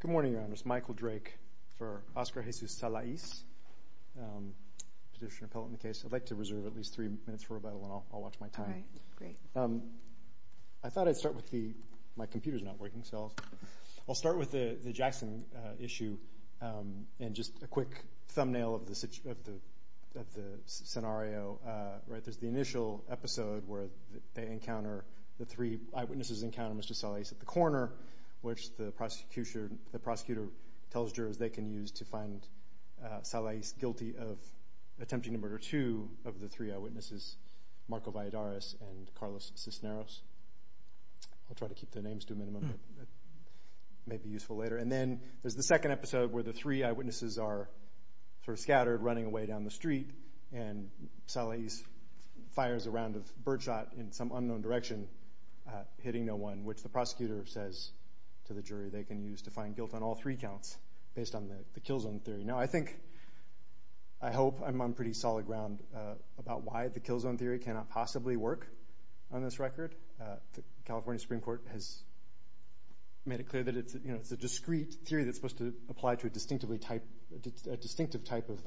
Good morning, Your Honors. Michael Drake for Oscar Jesus Salais, Petitioner-Appellant case. I'd like to reserve at least three minutes for rebuttal and I'll watch my time. I thought I'd start with the, my computer's not working, so I'll start with the Jackson issue, and just a quick thumbnail of the scenario. There's the initial episode where they encounter, the three eyewitnesses encounter Mr. Salais at the corner, which the prosecutor tells jurors they can use to find Salais guilty of attempting to murder two of the three eyewitnesses, Marco Valladares and Carlos Cisneros. I'll try to keep the names to a minimum. It may be useful later. And then there's the second episode where the three eyewitnesses are sort of scattered, running away down the street, and Salais fires a round of birdshot in some unknown direction, hitting no one, which the prosecutor says to the jury they can use to find guilt on all three counts, based on the kill zone theory. Now I think, I hope I'm on pretty solid ground about why the kill zone theory cannot possibly work on this record. The California Supreme Court has made it clear that it's, you know, it's a discrete theory that's supposed to apply to a distinctively type, a distinctive type of,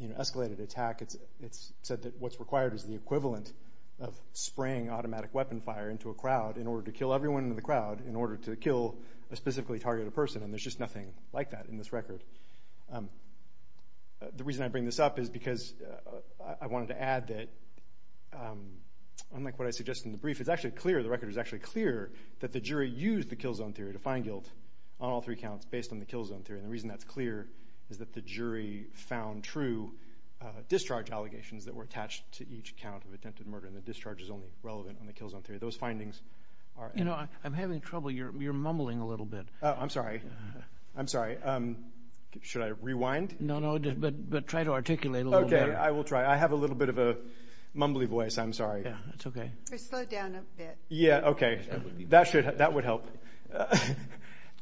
you know, escalated attack. It's said that what's required is the equivalent of spraying automatic weapon fire into a crowd in order to kill everyone in the crowd, in order to kill a specifically targeted person, and there's just nothing like that in this record. The reason I bring this up is because I wanted to add that, unlike what I suggested in the brief, it's actually clear, the record is actually clear that the jury used the kill zone theory to find guilt on all three counts based on the kill zone theory, and the reason that's clear is that the jury found true discharge allegations that were attached to each count of attempted murder, and the discharge is only relevant on the kill zone theory. Those findings are You know, I'm having trouble. You're mumbling a little bit. Oh, I'm sorry. I'm sorry. Should I rewind? No, no, but try to articulate a little better. Okay, I will try. I have a little bit of a mumbly voice. I'm sorry. Yeah, that's okay. Or slow down a bit. Yeah, okay. That would help.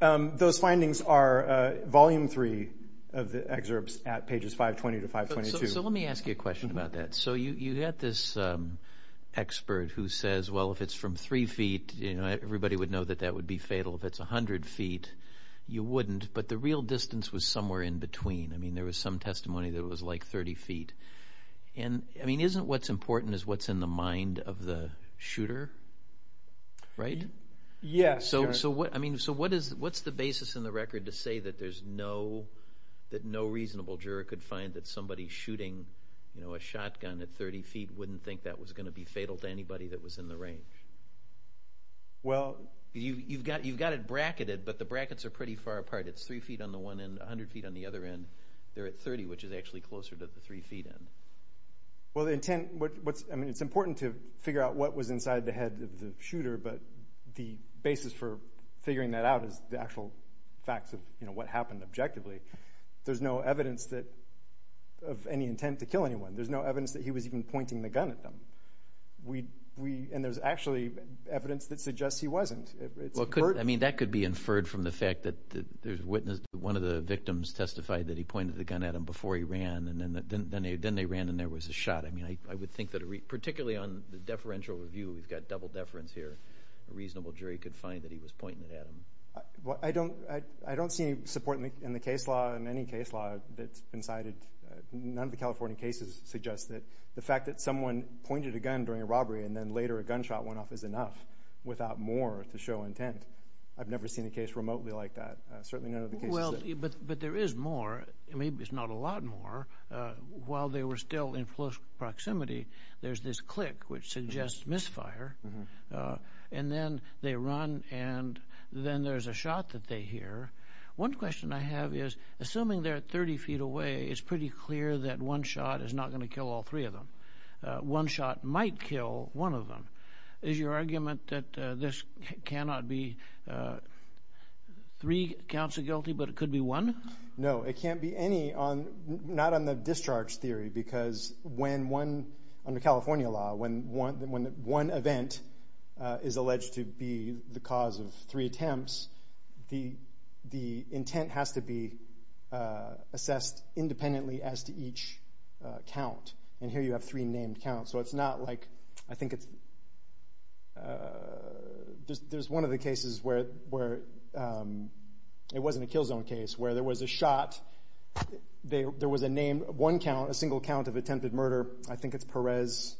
Those findings are Volume 3 of the excerpts at pages 520 to 522. So let me ask you a question about that. So you had this expert who says, well, if it's from three feet, you know, everybody would know that that would be fatal. If it's 100 feet, you wouldn't, but the real distance was somewhere in between. I mean, there was some testimony that it was like 30 feet. I mean, isn't what's important is what's in the mind of the shooter, right? Yes. So what's the basis in the record to say that no reasonable juror could find that somebody shooting a shotgun at 30 feet wouldn't think that was going to be fatal to anybody that was in the range? Well... You've got it bracketed, but the brackets are pretty far apart. It's three feet on the one end, 100 feet on the other end. They're at 30, which is actually closer to the three feet end. Well, the intent... I mean, it's important to figure out what was inside the head of the shooter, but the basis for figuring that out is the actual facts of what happened objectively. There's no evidence of any intent to kill anyone. There's no evidence that he was even Well, I mean, that could be inferred from the fact that one of the victims testified that he pointed the gun at him before he ran, and then they ran and there was a shot. I mean, I would think that particularly on the deferential review, we've got double deference here, a reasonable jury could find that he was pointing it at him. Well, I don't see any support in the case law, in any case law, that's been cited. None of the California cases suggest that the fact that someone pointed a gun during a robbery and then later a gunshot went off is enough, without more to show intent. I've never seen a case remotely like that. Certainly none of the cases... Well, but there is more. I mean, it's not a lot more. While they were still in close proximity, there's this click, which suggests misfire, and then they run and then there's a shot that they hear. One question I have is, assuming they're at 30 feet away, it's pretty clear that one shot is not going to kill all three of them. One shot might kill one of them. Is your argument that this cannot be three counts of guilty, but it could be one? No, it can't be any, not on the discharge theory, because when one, under California law, when one event is alleged to be the cause of three attempts, the intent has to be assessed independently as to each count. And here you have three named counts. So it's not like, I think it's... There's one of the cases where it wasn't a kill zone case, where there was a shot, there was a name, one count, a single count of attempted murder. I think it's Perez.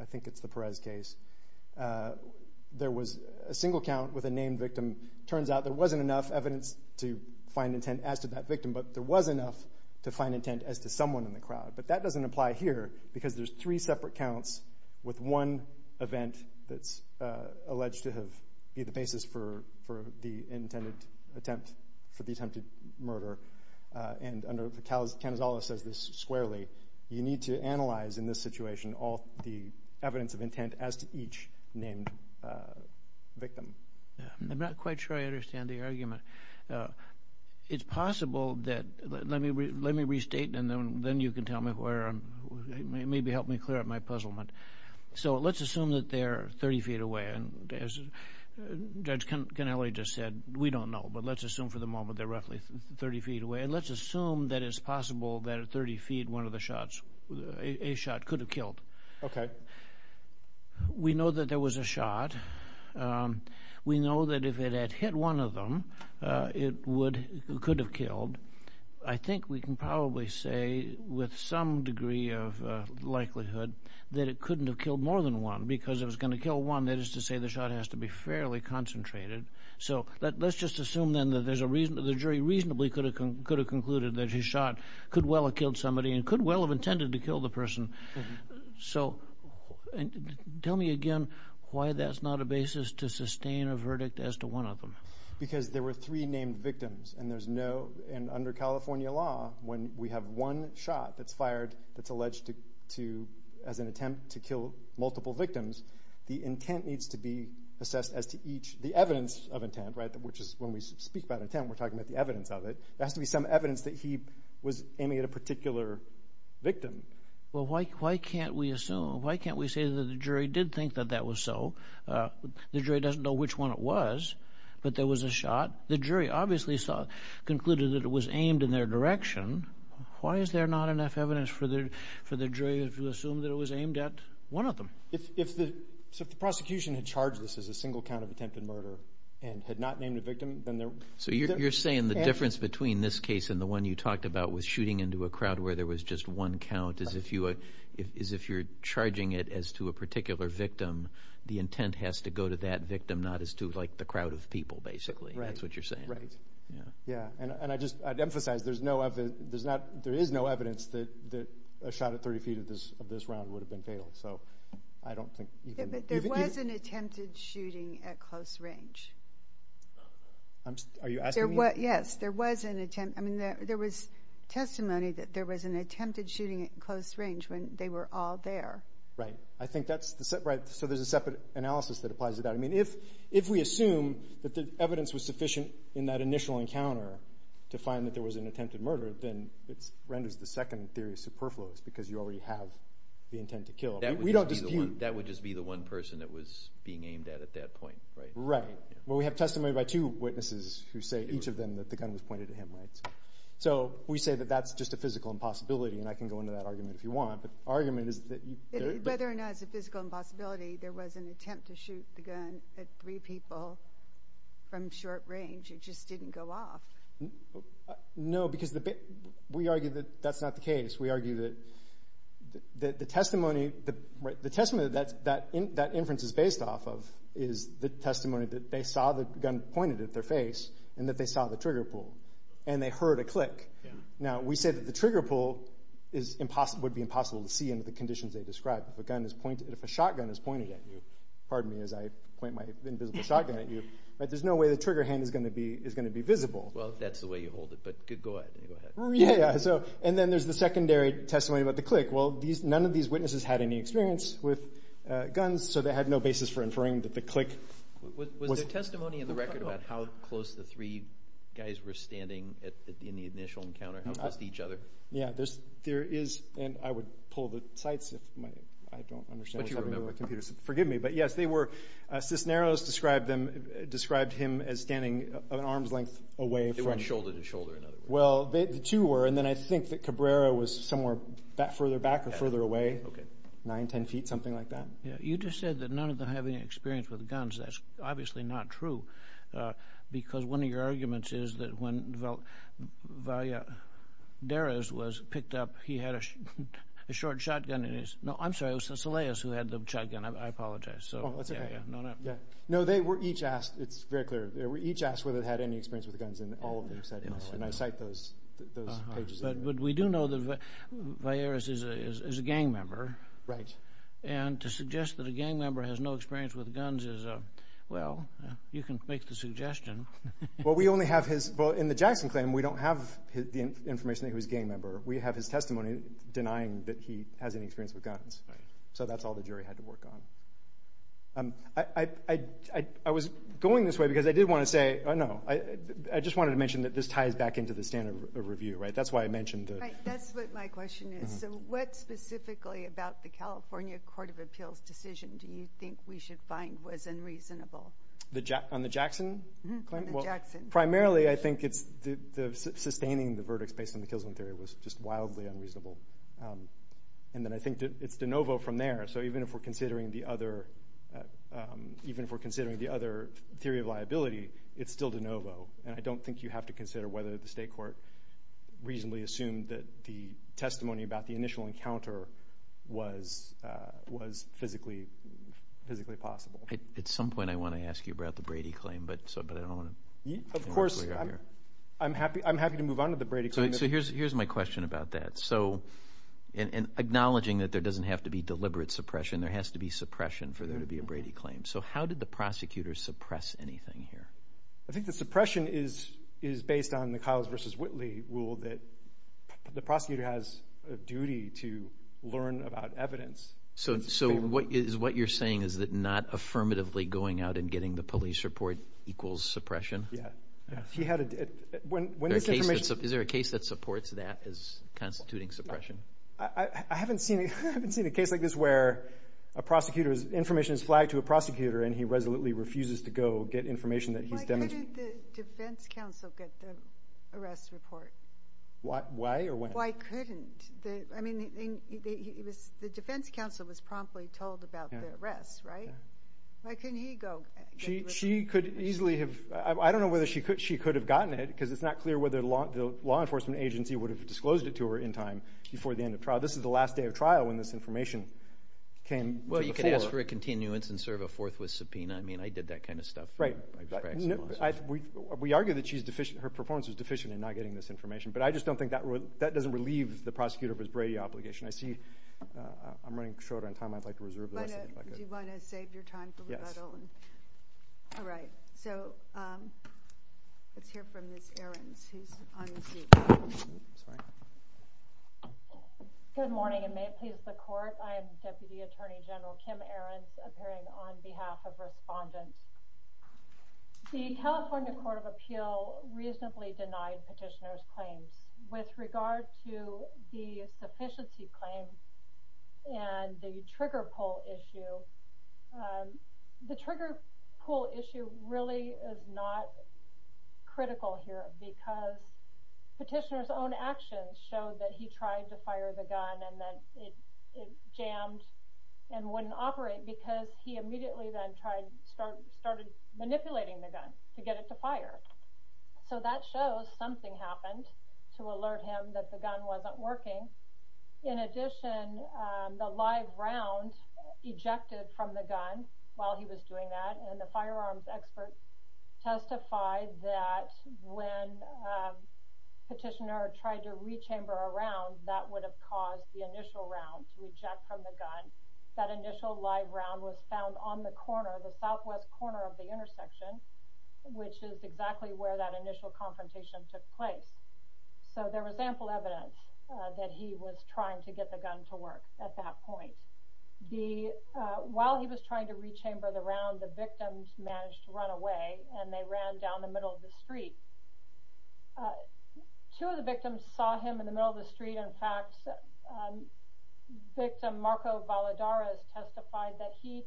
I think it's the Perez case. There was a single count with a named victim. Turns out there was enough to find intent as to someone in the crowd. But that doesn't apply here, because there's three separate counts with one event that's alleged to have been the basis for the intended attempt, for the attempted murder. And under, Canazola says this squarely, you need to analyze in this situation all the evidence of intent as to each named victim. I'm not quite sure I understand the argument. It's possible that... Let me restate, and then you can tell me where I'm... Maybe help me clear up my puzzlement. So let's assume that they're 30 feet away. And as Judge Canelli just said, we don't know. But let's assume for the moment they're roughly 30 feet away. And let's assume that it's possible that at We know that if it had hit one of them, it could have killed. I think we can probably say with some degree of likelihood that it couldn't have killed more than one, because if it was going to kill one, that is to say the shot has to be fairly concentrated. So let's just assume then that the jury reasonably could have concluded that his shot could well have killed somebody and could well have intended to kill the person. So tell me again why that's not a basis to sustain a verdict as to one of them. Because there were three named victims and there's no... And under California law, when we have one shot that's fired that's alleged to... As an attempt to kill multiple victims, the intent needs to be assessed as to each... The evidence of intent, right? Which is when we speak about intent, we're talking about the evidence of it. There has to be some evidence that he was aiming at a particular victim. Well, why can't we assume? Why can't we say that the jury did think that that was so? The jury doesn't know which one it was, but there was a shot. The jury obviously concluded that it was aimed in their direction. Why is there not enough evidence for the jury to assume that it was aimed at one of them? If the prosecution had charged this as a single count of attempted murder and had not named a victim, then there... So you're saying the difference between this case and the one you talked about was shooting into a crowd where there was just one count as if you're charging it as to a particular victim, the intent has to go to that victim, not as to the crowd of people, basically. That's what you're saying. Right. Yeah. And I'd emphasize, there is no evidence that a shot at 30 feet of this round would have been fatal. So I don't think... But there was an attempted shooting at close range. Are you asking me? Yes. There was an attempt... I mean, there was testimony that there was an attempted shooting at close range when they were all there. Right. So there's a separate analysis that applies to that. I mean, if we assume that the evidence was sufficient in that initial encounter to find that there was an attempted murder, then it renders the second theory superfluous because you already have the intent to kill. We don't dispute... That would just be the one person that was being aimed at at that point, right? Right. Well, we have testimony by two witnesses who say each of them that the gun was pointed at him, right? So we say that that's just a physical impossibility, and I can go into that argument if you want, but the argument is that... Whether or not it's a physical impossibility, there was an attempt to shoot the gun at three people from short range. It just didn't go off. No, because we argue that that's not the case. We argue that the testimony that that inference is based off of is the testimony that they saw the gun pointed at their face and that they saw the trigger pull, and they heard a click. Now, we say that the trigger pull would be impossible to see under the conditions they described. If a shotgun is pointed at you, pardon me as I point my invisible shotgun at you, but there's no way the trigger hand is going to be visible. Well, if that's the way you hold it, but go ahead. Yeah, and then there's the secondary testimony about the click. Well, none of these witnesses had any experience with guns, so they had no basis for inferring that the click was... Was there testimony in the record about how close the three guys were standing in the initial encounter, how close to each other? Yeah, there is, and I would pull the sites if I don't understand what's happening here. Forgive me, but yes, they were... Cisneros described him as standing an arm's length away from... They weren't shoulder to shoulder in other words. Well, the two were, and then I think that Cabrera was somewhere further back or further away, nine, ten feet, something like that. You just said that none of them had any experience with guns. That's obviously not true, because one of your arguments is that when Valleres was picked up, he had a short shotgun in his... No, I'm sorry, it was Cisneros who had the shotgun. I apologize. Oh, that's okay. No, no. No, they were each asked, it's very clear, they were each asked whether they had any experience with guns, and all of them said no, and I cite those pages. But we do know that Valleres is a gang member, and to suggest that a gang member has no experience with guns is a... Well, you can make the suggestion. Well, we only have his... Well, in the Jackson claim, we don't have the information that he was a gang member. We have his testimony denying that he has any experience with guns, so that's all the jury had to work on. I was going this way because I did want to say... No, I just wanted to mention that this That's what my question is. So what specifically about the California Court of Appeals decision do you think we should find was unreasonable? On the Jackson claim? On the Jackson. Primarily, I think it's sustaining the verdicts based on the Kilsman theory was just wildly unreasonable, and then I think it's de novo from there. So even if we're considering the other theory of liability, it's still de novo, and I don't think you have to consider whether the state court reasonably assumed that the testimony about the initial encounter was physically possible. At some point, I want to ask you about the Brady claim, but I don't want to... Of course. I'm happy to move on to the Brady claim. So here's my question about that. So acknowledging that there doesn't have to be deliberate suppression, there has to be suppression for there to be a Brady claim. So how did the prosecutors suppress anything here? I think the suppression is based on the Kiles v. Whitley rule that the prosecutor has a duty to learn about evidence. So what you're saying is that not affirmatively going out and getting the police report equals suppression? Yeah. Is there a case that supports that as constituting suppression? I haven't seen a case like this where a prosecutor's information is flagged to a prosecutor and he resolutely refuses to go get information that he's demonstrating. Why couldn't the defense counsel get the arrest report? Why or when? Why couldn't? I mean, the defense counsel was promptly told about the arrest, right? Why couldn't he go? She could easily have... I don't know whether she could have gotten it because it's not clear whether the law enforcement agency would have disclosed it to her in time before the end of trial. This is the last day of trial when this information came to the fore. Well, you could ask for a continuance and serve a forthwith subpoena. I mean, I did that kind of stuff. Right. We argue that her performance was deficient in not getting this information, but I just don't think that doesn't relieve the prosecutor of his Brady obligation. I'm running short on time. I'd like to reserve the rest of the bucket. Do you want to save your time for Ricardo? Yes. All right. So let's hear from Ms. Ahrens, who's on the seat. Good morning, and may it please the Court. I am Deputy Attorney General Kim Ahrens, appearing on behalf of respondents. The California Court of Appeal reasonably denied Petitioner's claims. With regard to the sufficiency claims and the trigger pull issue, the trigger pull issue really is not and wouldn't operate because he immediately then started manipulating the gun to get it to fire. So that shows something happened to alert him that the gun wasn't working. In addition, the live round ejected from the gun while he was doing that, and the firearms expert testified that when Petitioner tried to rechamber a round, that would have caused the initial round to eject from the gun. That initial live round was found on the corner, the southwest corner of the intersection, which is exactly where that initial confrontation took place. So there was ample evidence that he was trying to get the gun to work at that point. While he was trying to rechamber the round, the victims managed to run away, and they ran down the middle of the street. Two of the victims saw him in the middle of the street. In fact, victim Marco Valadares testified that he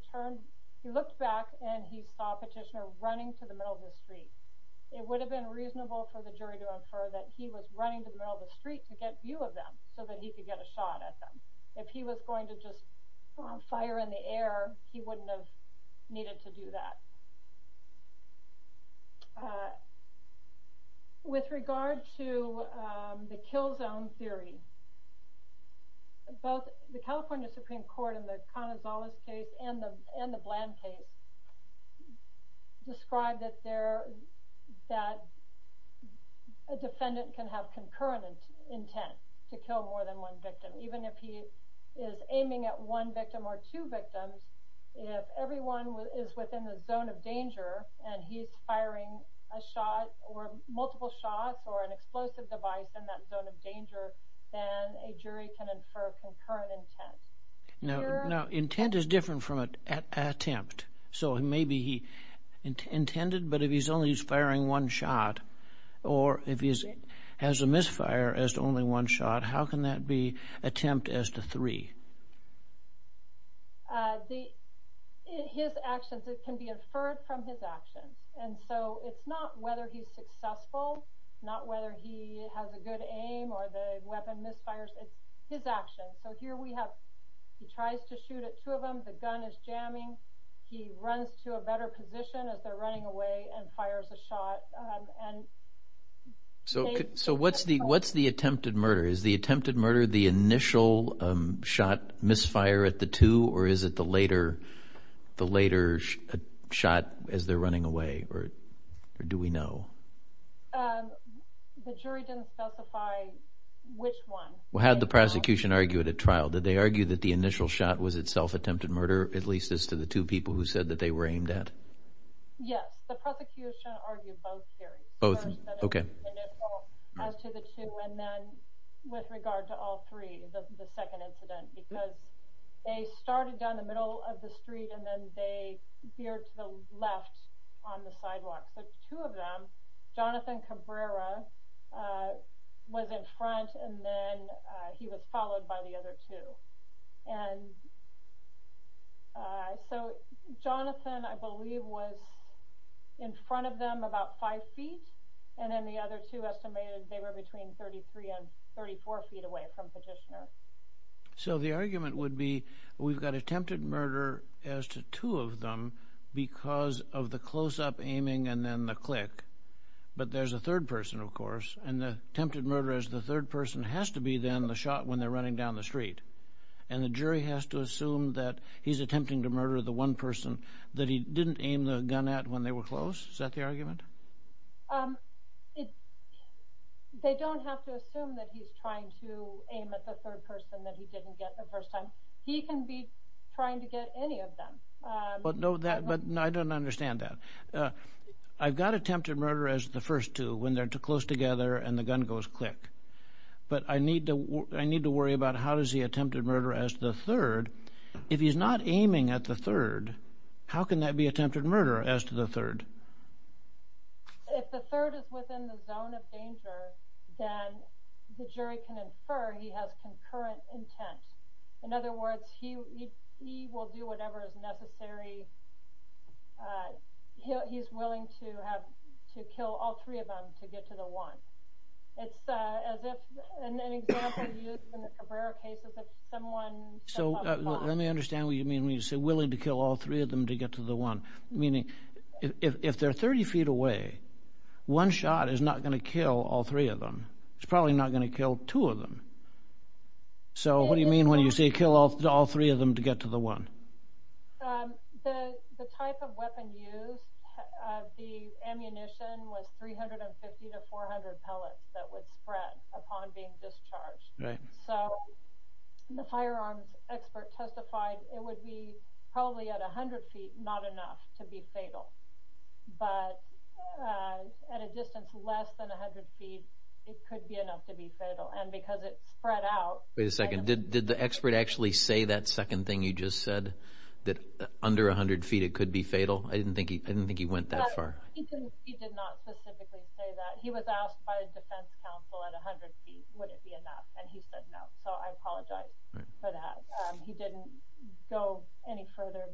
looked back, and he saw Petitioner running to the middle of the street. It would have been reasonable for the jury to infer that he was running to the middle of the street to get view of them so that he could get a shot at them. If he was going to just fire in the air, he wouldn't have needed to do that. With regard to the kill zone theory, both the California Supreme Court in the Canazales case and the Bland case described that a defendant can have concurrent intent to kill more than one victim. Even if he is aiming at one victim or two victims, if everyone is within a zone of danger and he's firing a shot or multiple shots or an explosive device in that zone of danger, then a jury can infer concurrent intent. Now, intent is different from attempt. So maybe he intended, but if he's only firing one shot, or if he has a misfire as to only one shot, how can that be attempt as to three? His actions can be inferred from his actions. And so it's not whether he's successful, not whether he has a good aim or the weapon misfires. It's his actions. So here we have he tries to shoot at two of them. The gun is jamming. He runs to a better position as they're running away and fires a shot. So what's the attempted murder? Is the attempted murder the initial shot misfire at the two, or is it the later shot as they're running away? Or do we know? The jury didn't specify which one. Well, had the prosecution argued at trial? Did they argue that the initial shot was itself attempted murder, at least as to the two people who said that they were aimed at? Yes. The prosecution argued both theories. Both? Okay. As to the two, and then with regard to all three, the second incident, because they started down the middle of the street and then they veered to the left on the sidewalk. But two of them, Jonathan Cabrera was in front and then he was followed by the other two. And so Jonathan, I believe, was in front of them about five feet, and then the other two estimated they were between 33 and 34 feet away from Petitioner. So the argument would be we've got attempted murder as to two of them because of the close-up aiming and then the click. But there's a third person, of course, and the attempted murder as the third person has to be then the shot when they're running down the street. And the jury has to assume that he's attempting to murder the one person that he didn't aim the gun at when they were close. Is that the argument? They don't have to assume that he's trying to aim at the third person that he didn't get the first time. He can be trying to get any of them. But I don't understand that. I've got attempted murder as the first two when they're close together and the gun goes click. But I need to worry about how does the attempted murder as the third, if he's not aiming at the third, how can that be attempted murder as to the third? If the third is within the zone of danger, then the jury can infer he has concurrent intent. In other words, he will do whatever is necessary. He's willing to kill all three of them to get to the one. It's as if an example used in the Cabrera case is if someone comes along. Let me understand what you mean when you say willing to kill all three of them to get to the one, meaning if they're 30 feet away, one shot is not going to kill all three of them. It's probably not going to kill two of them. So what do you mean when you say kill all three of them to get to the one? The type of weapon used, the ammunition was 350 to 400 pellets that was spread upon being discharged. So the firearms expert testified it would be probably at 100 feet, not enough to be fatal. But at a distance less than 100 feet, it could be enough to be fatal. And because it spread out… Did the expert actually say that second thing you just said, that under 100 feet it could be fatal? I didn't think he went that far. He did not specifically say that. He was asked by a defense counsel at 100 feet, would it be enough, and he said no. So I apologize for that. He didn't go any further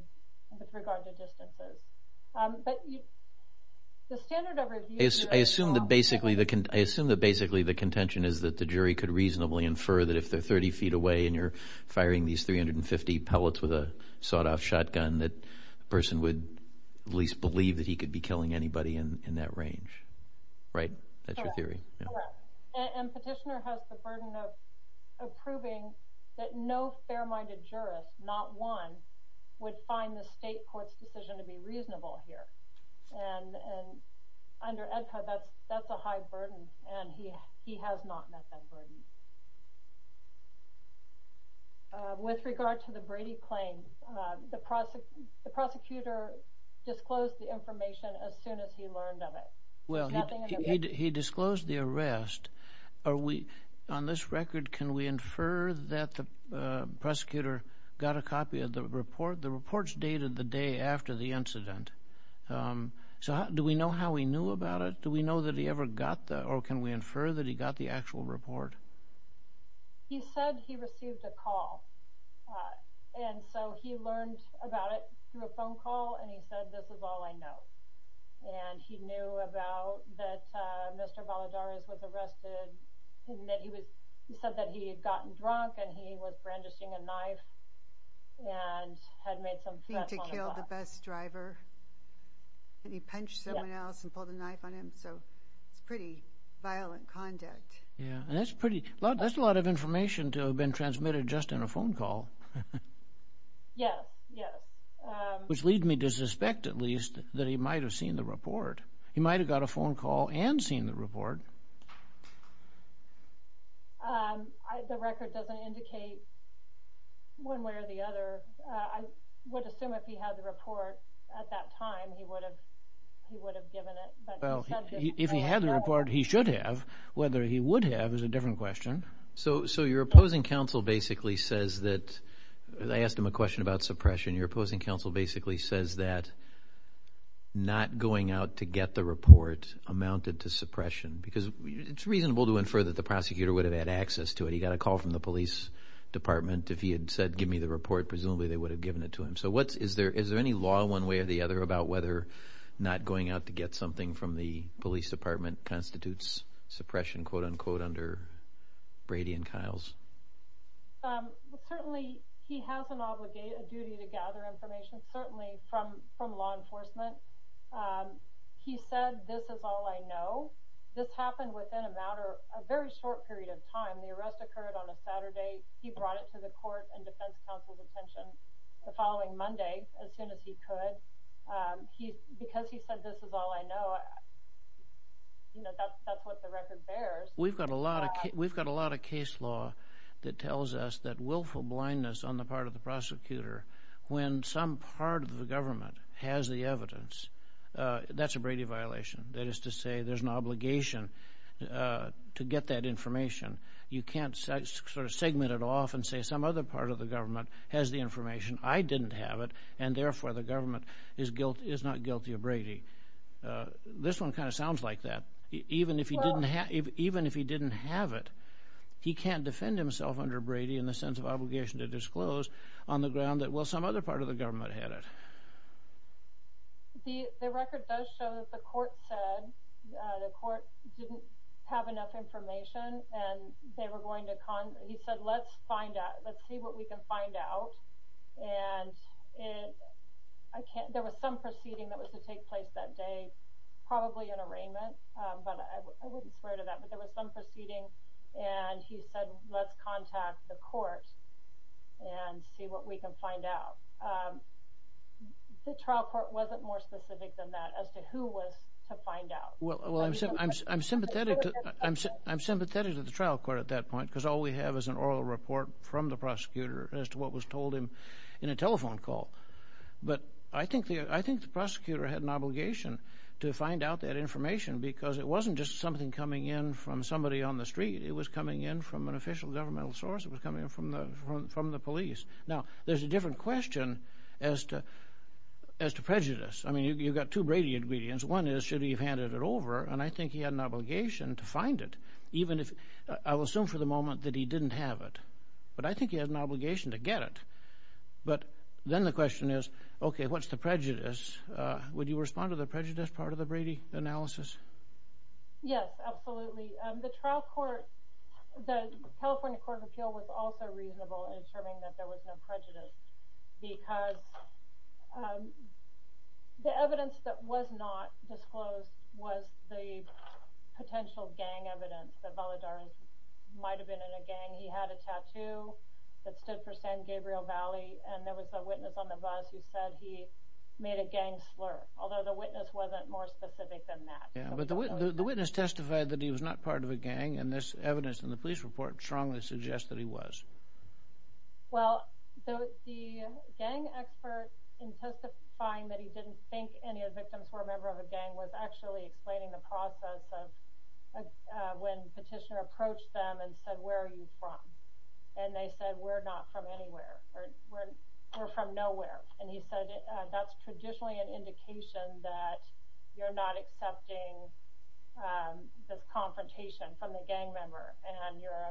with regard to distances. But the standard of review… I assume that basically the contention is that the jury could reasonably infer that if they're 30 feet away and you're firing these 350 pellets with a sawed-off shotgun, that the person would at least believe that he could be killing anybody in that range. Right? That's your theory? Correct. And Petitioner has the burden of proving that no fair-minded jurist, not one, would find the state court's decision to be reasonable here. And under EDCA that's a high burden, and he has not met that burden. With regard to the Brady claims, the prosecutor disclosed the information as soon as he learned of it. Well, he disclosed the arrest. On this record, can we infer that the prosecutor got a copy of the report? The report's dated the day after the incident. So do we know how he knew about it? Do we know that he ever got that, or can we infer that he got the actual report? He said he received a call, and so he learned about it through a phone call, and he said, this is all I know. And he knew about that Mr. Valadares was arrested. He said that he had gotten drunk and he was brandishing a knife and had made some threats on the bus. He had to kill the bus driver, and he punched someone else and pulled a knife on him, so it's pretty violent conduct. Yeah, and that's a lot of information to have been transmitted just in a phone call. Yes, yes. Which leads me to suspect, at least, that he might have seen the report. He might have got a phone call and seen the report. The record doesn't indicate one way or the other. I would assume if he had the report at that time, he would have given it. Well, if he had the report, he should have. Whether he would have is a different question. So your opposing counsel basically says that, I asked him a question about suppression, because it's reasonable to infer that the prosecutor would have had access to it. He got a call from the police department. If he had said, give me the report, presumably they would have given it to him. So is there any law, one way or the other, about whether not going out to get something from the police department constitutes suppression, quote-unquote, under Brady and Kiles? Certainly he has a duty to gather information, certainly from law enforcement. He said, this is all I know. This happened within a matter of a very short period of time. The arrest occurred on a Saturday. He brought it to the court and defense counsel's attention the following Monday, as soon as he could. Because he said, this is all I know, that's what the record bears. We've got a lot of case law that tells us that willful blindness on the part of the prosecutor, when some part of the government has the evidence, that's a Brady violation. That is to say, there's an obligation to get that information. You can't sort of segment it off and say, some other part of the government has the information, I didn't have it, and therefore the government is not guilty of Brady. This one kind of sounds like that. Even if he didn't have it, he can't defend himself under Brady in the sense of obligation to disclose on the ground that, well, some other part of the government had it. The record does show that the court said the court didn't have enough information. He said, let's find out. Let's see what we can find out. There was some proceeding that was to take place that day, probably an arraignment, but I wouldn't swear to that. But there was some proceeding, and he said, let's contact the court and see what we can find out. The trial court wasn't more specific than that as to who was to find out. Well, I'm sympathetic to the trial court at that point because all we have is an oral report from the prosecutor as to what was told him in a telephone call. But I think the prosecutor had an obligation to find out that information because it wasn't just something coming in from somebody on the street. It was coming in from an official governmental source. It was coming in from the police. Now, there's a different question as to prejudice. I mean, you've got two Brady ingredients. One is should he have handed it over, and I think he had an obligation to find it. I will assume for the moment that he didn't have it, but I think he had an obligation to get it. But then the question is, okay, what's the prejudice? Would you respond to the prejudice part of the Brady analysis? Yes, absolutely. The trial court, the California Court of Appeal was also reasonable in asserting that there was no prejudice because the evidence that was not disclosed was the potential gang evidence that Valadares might have been in a gang. He had a tattoo that stood for San Gabriel Valley, and there was a witness on the bus who said he made a gang slur, although the witness wasn't more specific than that. Yeah, but the witness testified that he was not part of a gang, and this evidence in the police report strongly suggests that he was. Well, the gang expert in testifying that he didn't think any of the victims were a member of a gang was actually explaining the process of when the petitioner approached them and said, where are you from? And they said, we're not from anywhere, we're from nowhere. And he said, that's traditionally an indication that you're not accepting the confrontation from a gang member.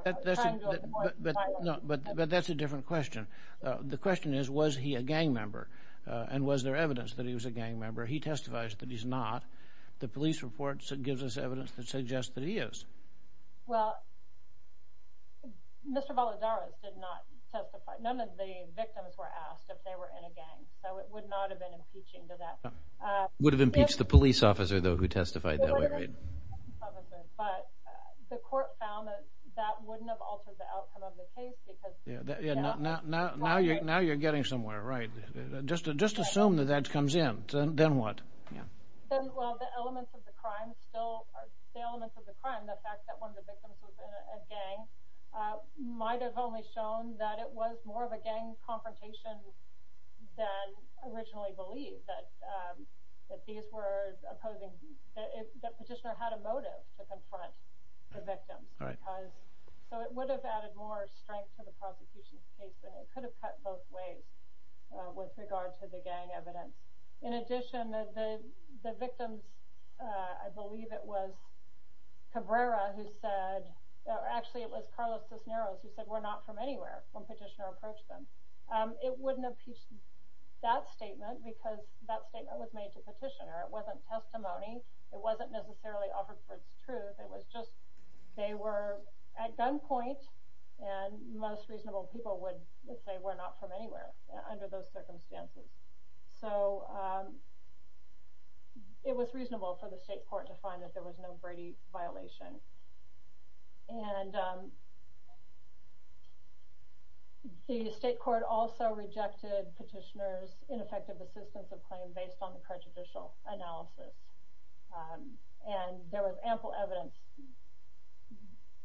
But that's a different question. The question is, was he a gang member, and was there evidence that he was a gang member? He testified that he's not. The police report gives us evidence that suggests that he is. Well, Mr. Balazares did not testify. None of the victims were asked if they were in a gang, so it would not have been impeaching to that. Would have impeached the police officer, though, who testified that way, right? But the court found that that wouldn't have altered the outcome of the case. Now you're getting somewhere, right? Just assume that that comes in, then what? Well, the elements of the crime, the fact that one of the victims was in a gang, might have only shown that it was more of a gang confrontation than originally believed, that the petitioner had a motive to confront the victim. So it would have added more strength to the prosecution's case, and it could have cut both ways with regard to the gang evidence. In addition, the victim, I believe it was Cabrera who said, or actually it was Carlos Cisneros who said, we're not from anywhere when petitioner approached them. It wouldn't have impeached that statement because that statement was made to petitioner. It wasn't testimony. It wasn't necessarily offered for truth. It was just they were at gunpoint, and most reasonable people would say we're not from anywhere under those circumstances. So it was reasonable for the state court to find that there was no Brady violation. And the state court also rejected petitioner's ineffective assistance of claim based on the prejudicial analysis. And there was ample evidence,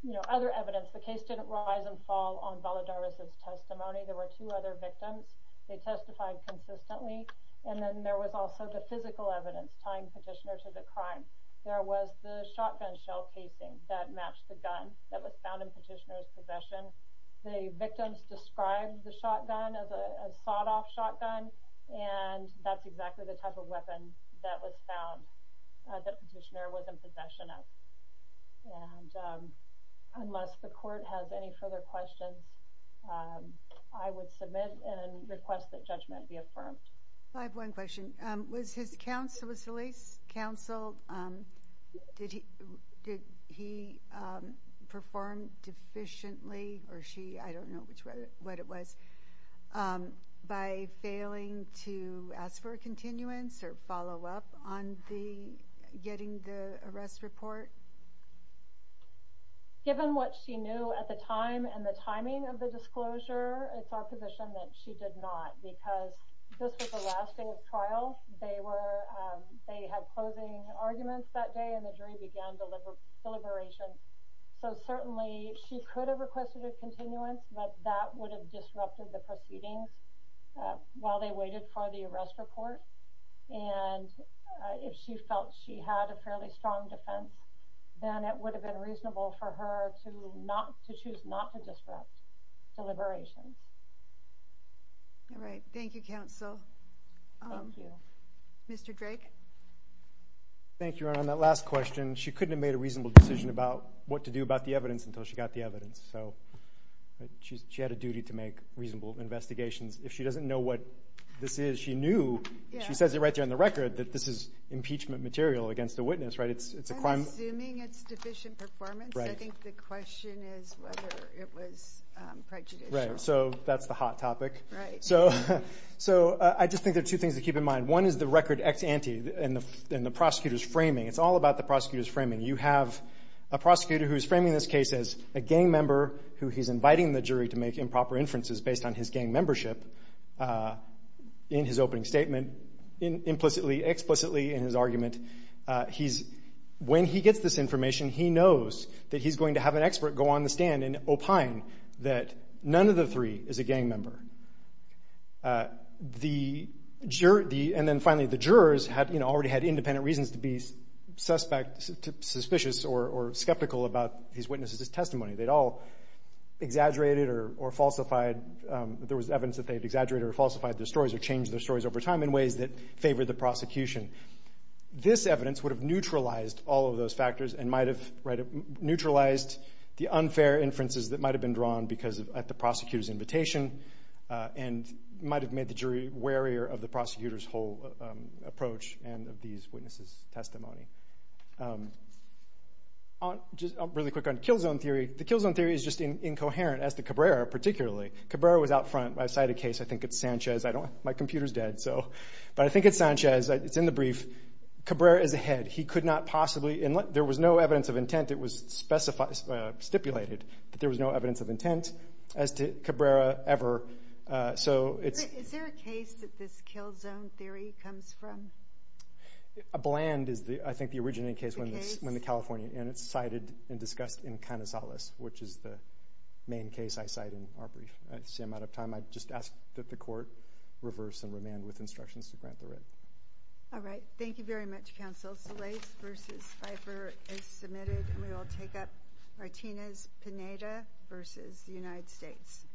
you know, other evidence. The case didn't rise and fall on Valadares' testimony. There were two other victims. They testified consistently, and then there was also the physical evidence tying petitioner to the crime. There was the shotgun shell casing that matched the gun that was found in petitioner's possession. The victims described the shotgun as a sawed-off shotgun, and that's exactly the type of weapon that was found that petitioner was in possession of. And unless the court has any further questions, I would submit and request that judgment be affirmed. I have one question. Was his counsel, was Elise's counsel, did he perform deficiently, or she? I don't know what it was. By failing to ask for a continuance or follow-up on getting the arrest report? Given what she knew at the time and the timing of the disclosure, it's our position that she did not because this was the last day of trial. They had closing arguments that day, and the jury began deliberation. So certainly she could have requested a continuance, but that would have disrupted the proceedings while they waited for the arrest report. And if she felt she had a fairly strong defense, then it would have been reasonable for her to choose not to disrupt deliberation. All right. Thank you, counsel. Thank you. Mr. Drake? Thank you, Your Honor. On that last question, she couldn't have made a reasonable decision about what to do about the evidence until she got the evidence. So she had a duty to make reasonable investigations. If she doesn't know what this is, she knew, she says it right there on the record, that this is impeachment material against a witness, right? I'm assuming it's deficient performance. I think the question is whether it was prejudicial. Right. So that's the hot topic. Right. So I just think there are two things to keep in mind. One is the record ex ante and the prosecutor's framing. It's all about the prosecutor's framing. You have a prosecutor who is framing this case as a gang member who he's inviting the jury to make improper inferences based on his gang membership in his opening statement, implicitly, explicitly in his argument. When he gets this information, he knows that he's going to have an expert go on the stand and opine that none of the three is a gang member. And then finally, the jurors already had independent reasons to be suspect, suspicious, or skeptical about these witnesses' testimony. They'd all exaggerated or falsified. There was evidence that they had exaggerated or falsified their stories or changed their stories over time in ways that favored the prosecution. This evidence would have neutralized all of those factors and might have neutralized the unfair inferences that might have been drawn because of the prosecutor's invitation and might have made the jury warier of the prosecutor's whole approach and of these witnesses' testimony. Just really quick on kill zone theory. The kill zone theory is just incoherent as to Cabrera, particularly. Cabrera was out front. I cite a case. I think it's Sanchez. My computer's dead, but I think it's Sanchez. It's in the brief. Cabrera is ahead. He could not possibly, and there was no evidence of intent. It was stipulated that there was no evidence of intent as to Cabrera ever. Is there a case that this kill zone theory comes from? A bland is, I think, the originating case when the Californian, and it's cited and discussed in Canizales, which is the main case I cite in our brief. I see I'm out of time. I just ask that the court reverse and remand with instructions to grant the writ. All right. Thank you very much, counsel. Bill Salates v. Pfeiffer is submitted. We will take up Martinez-Pineda v. United States.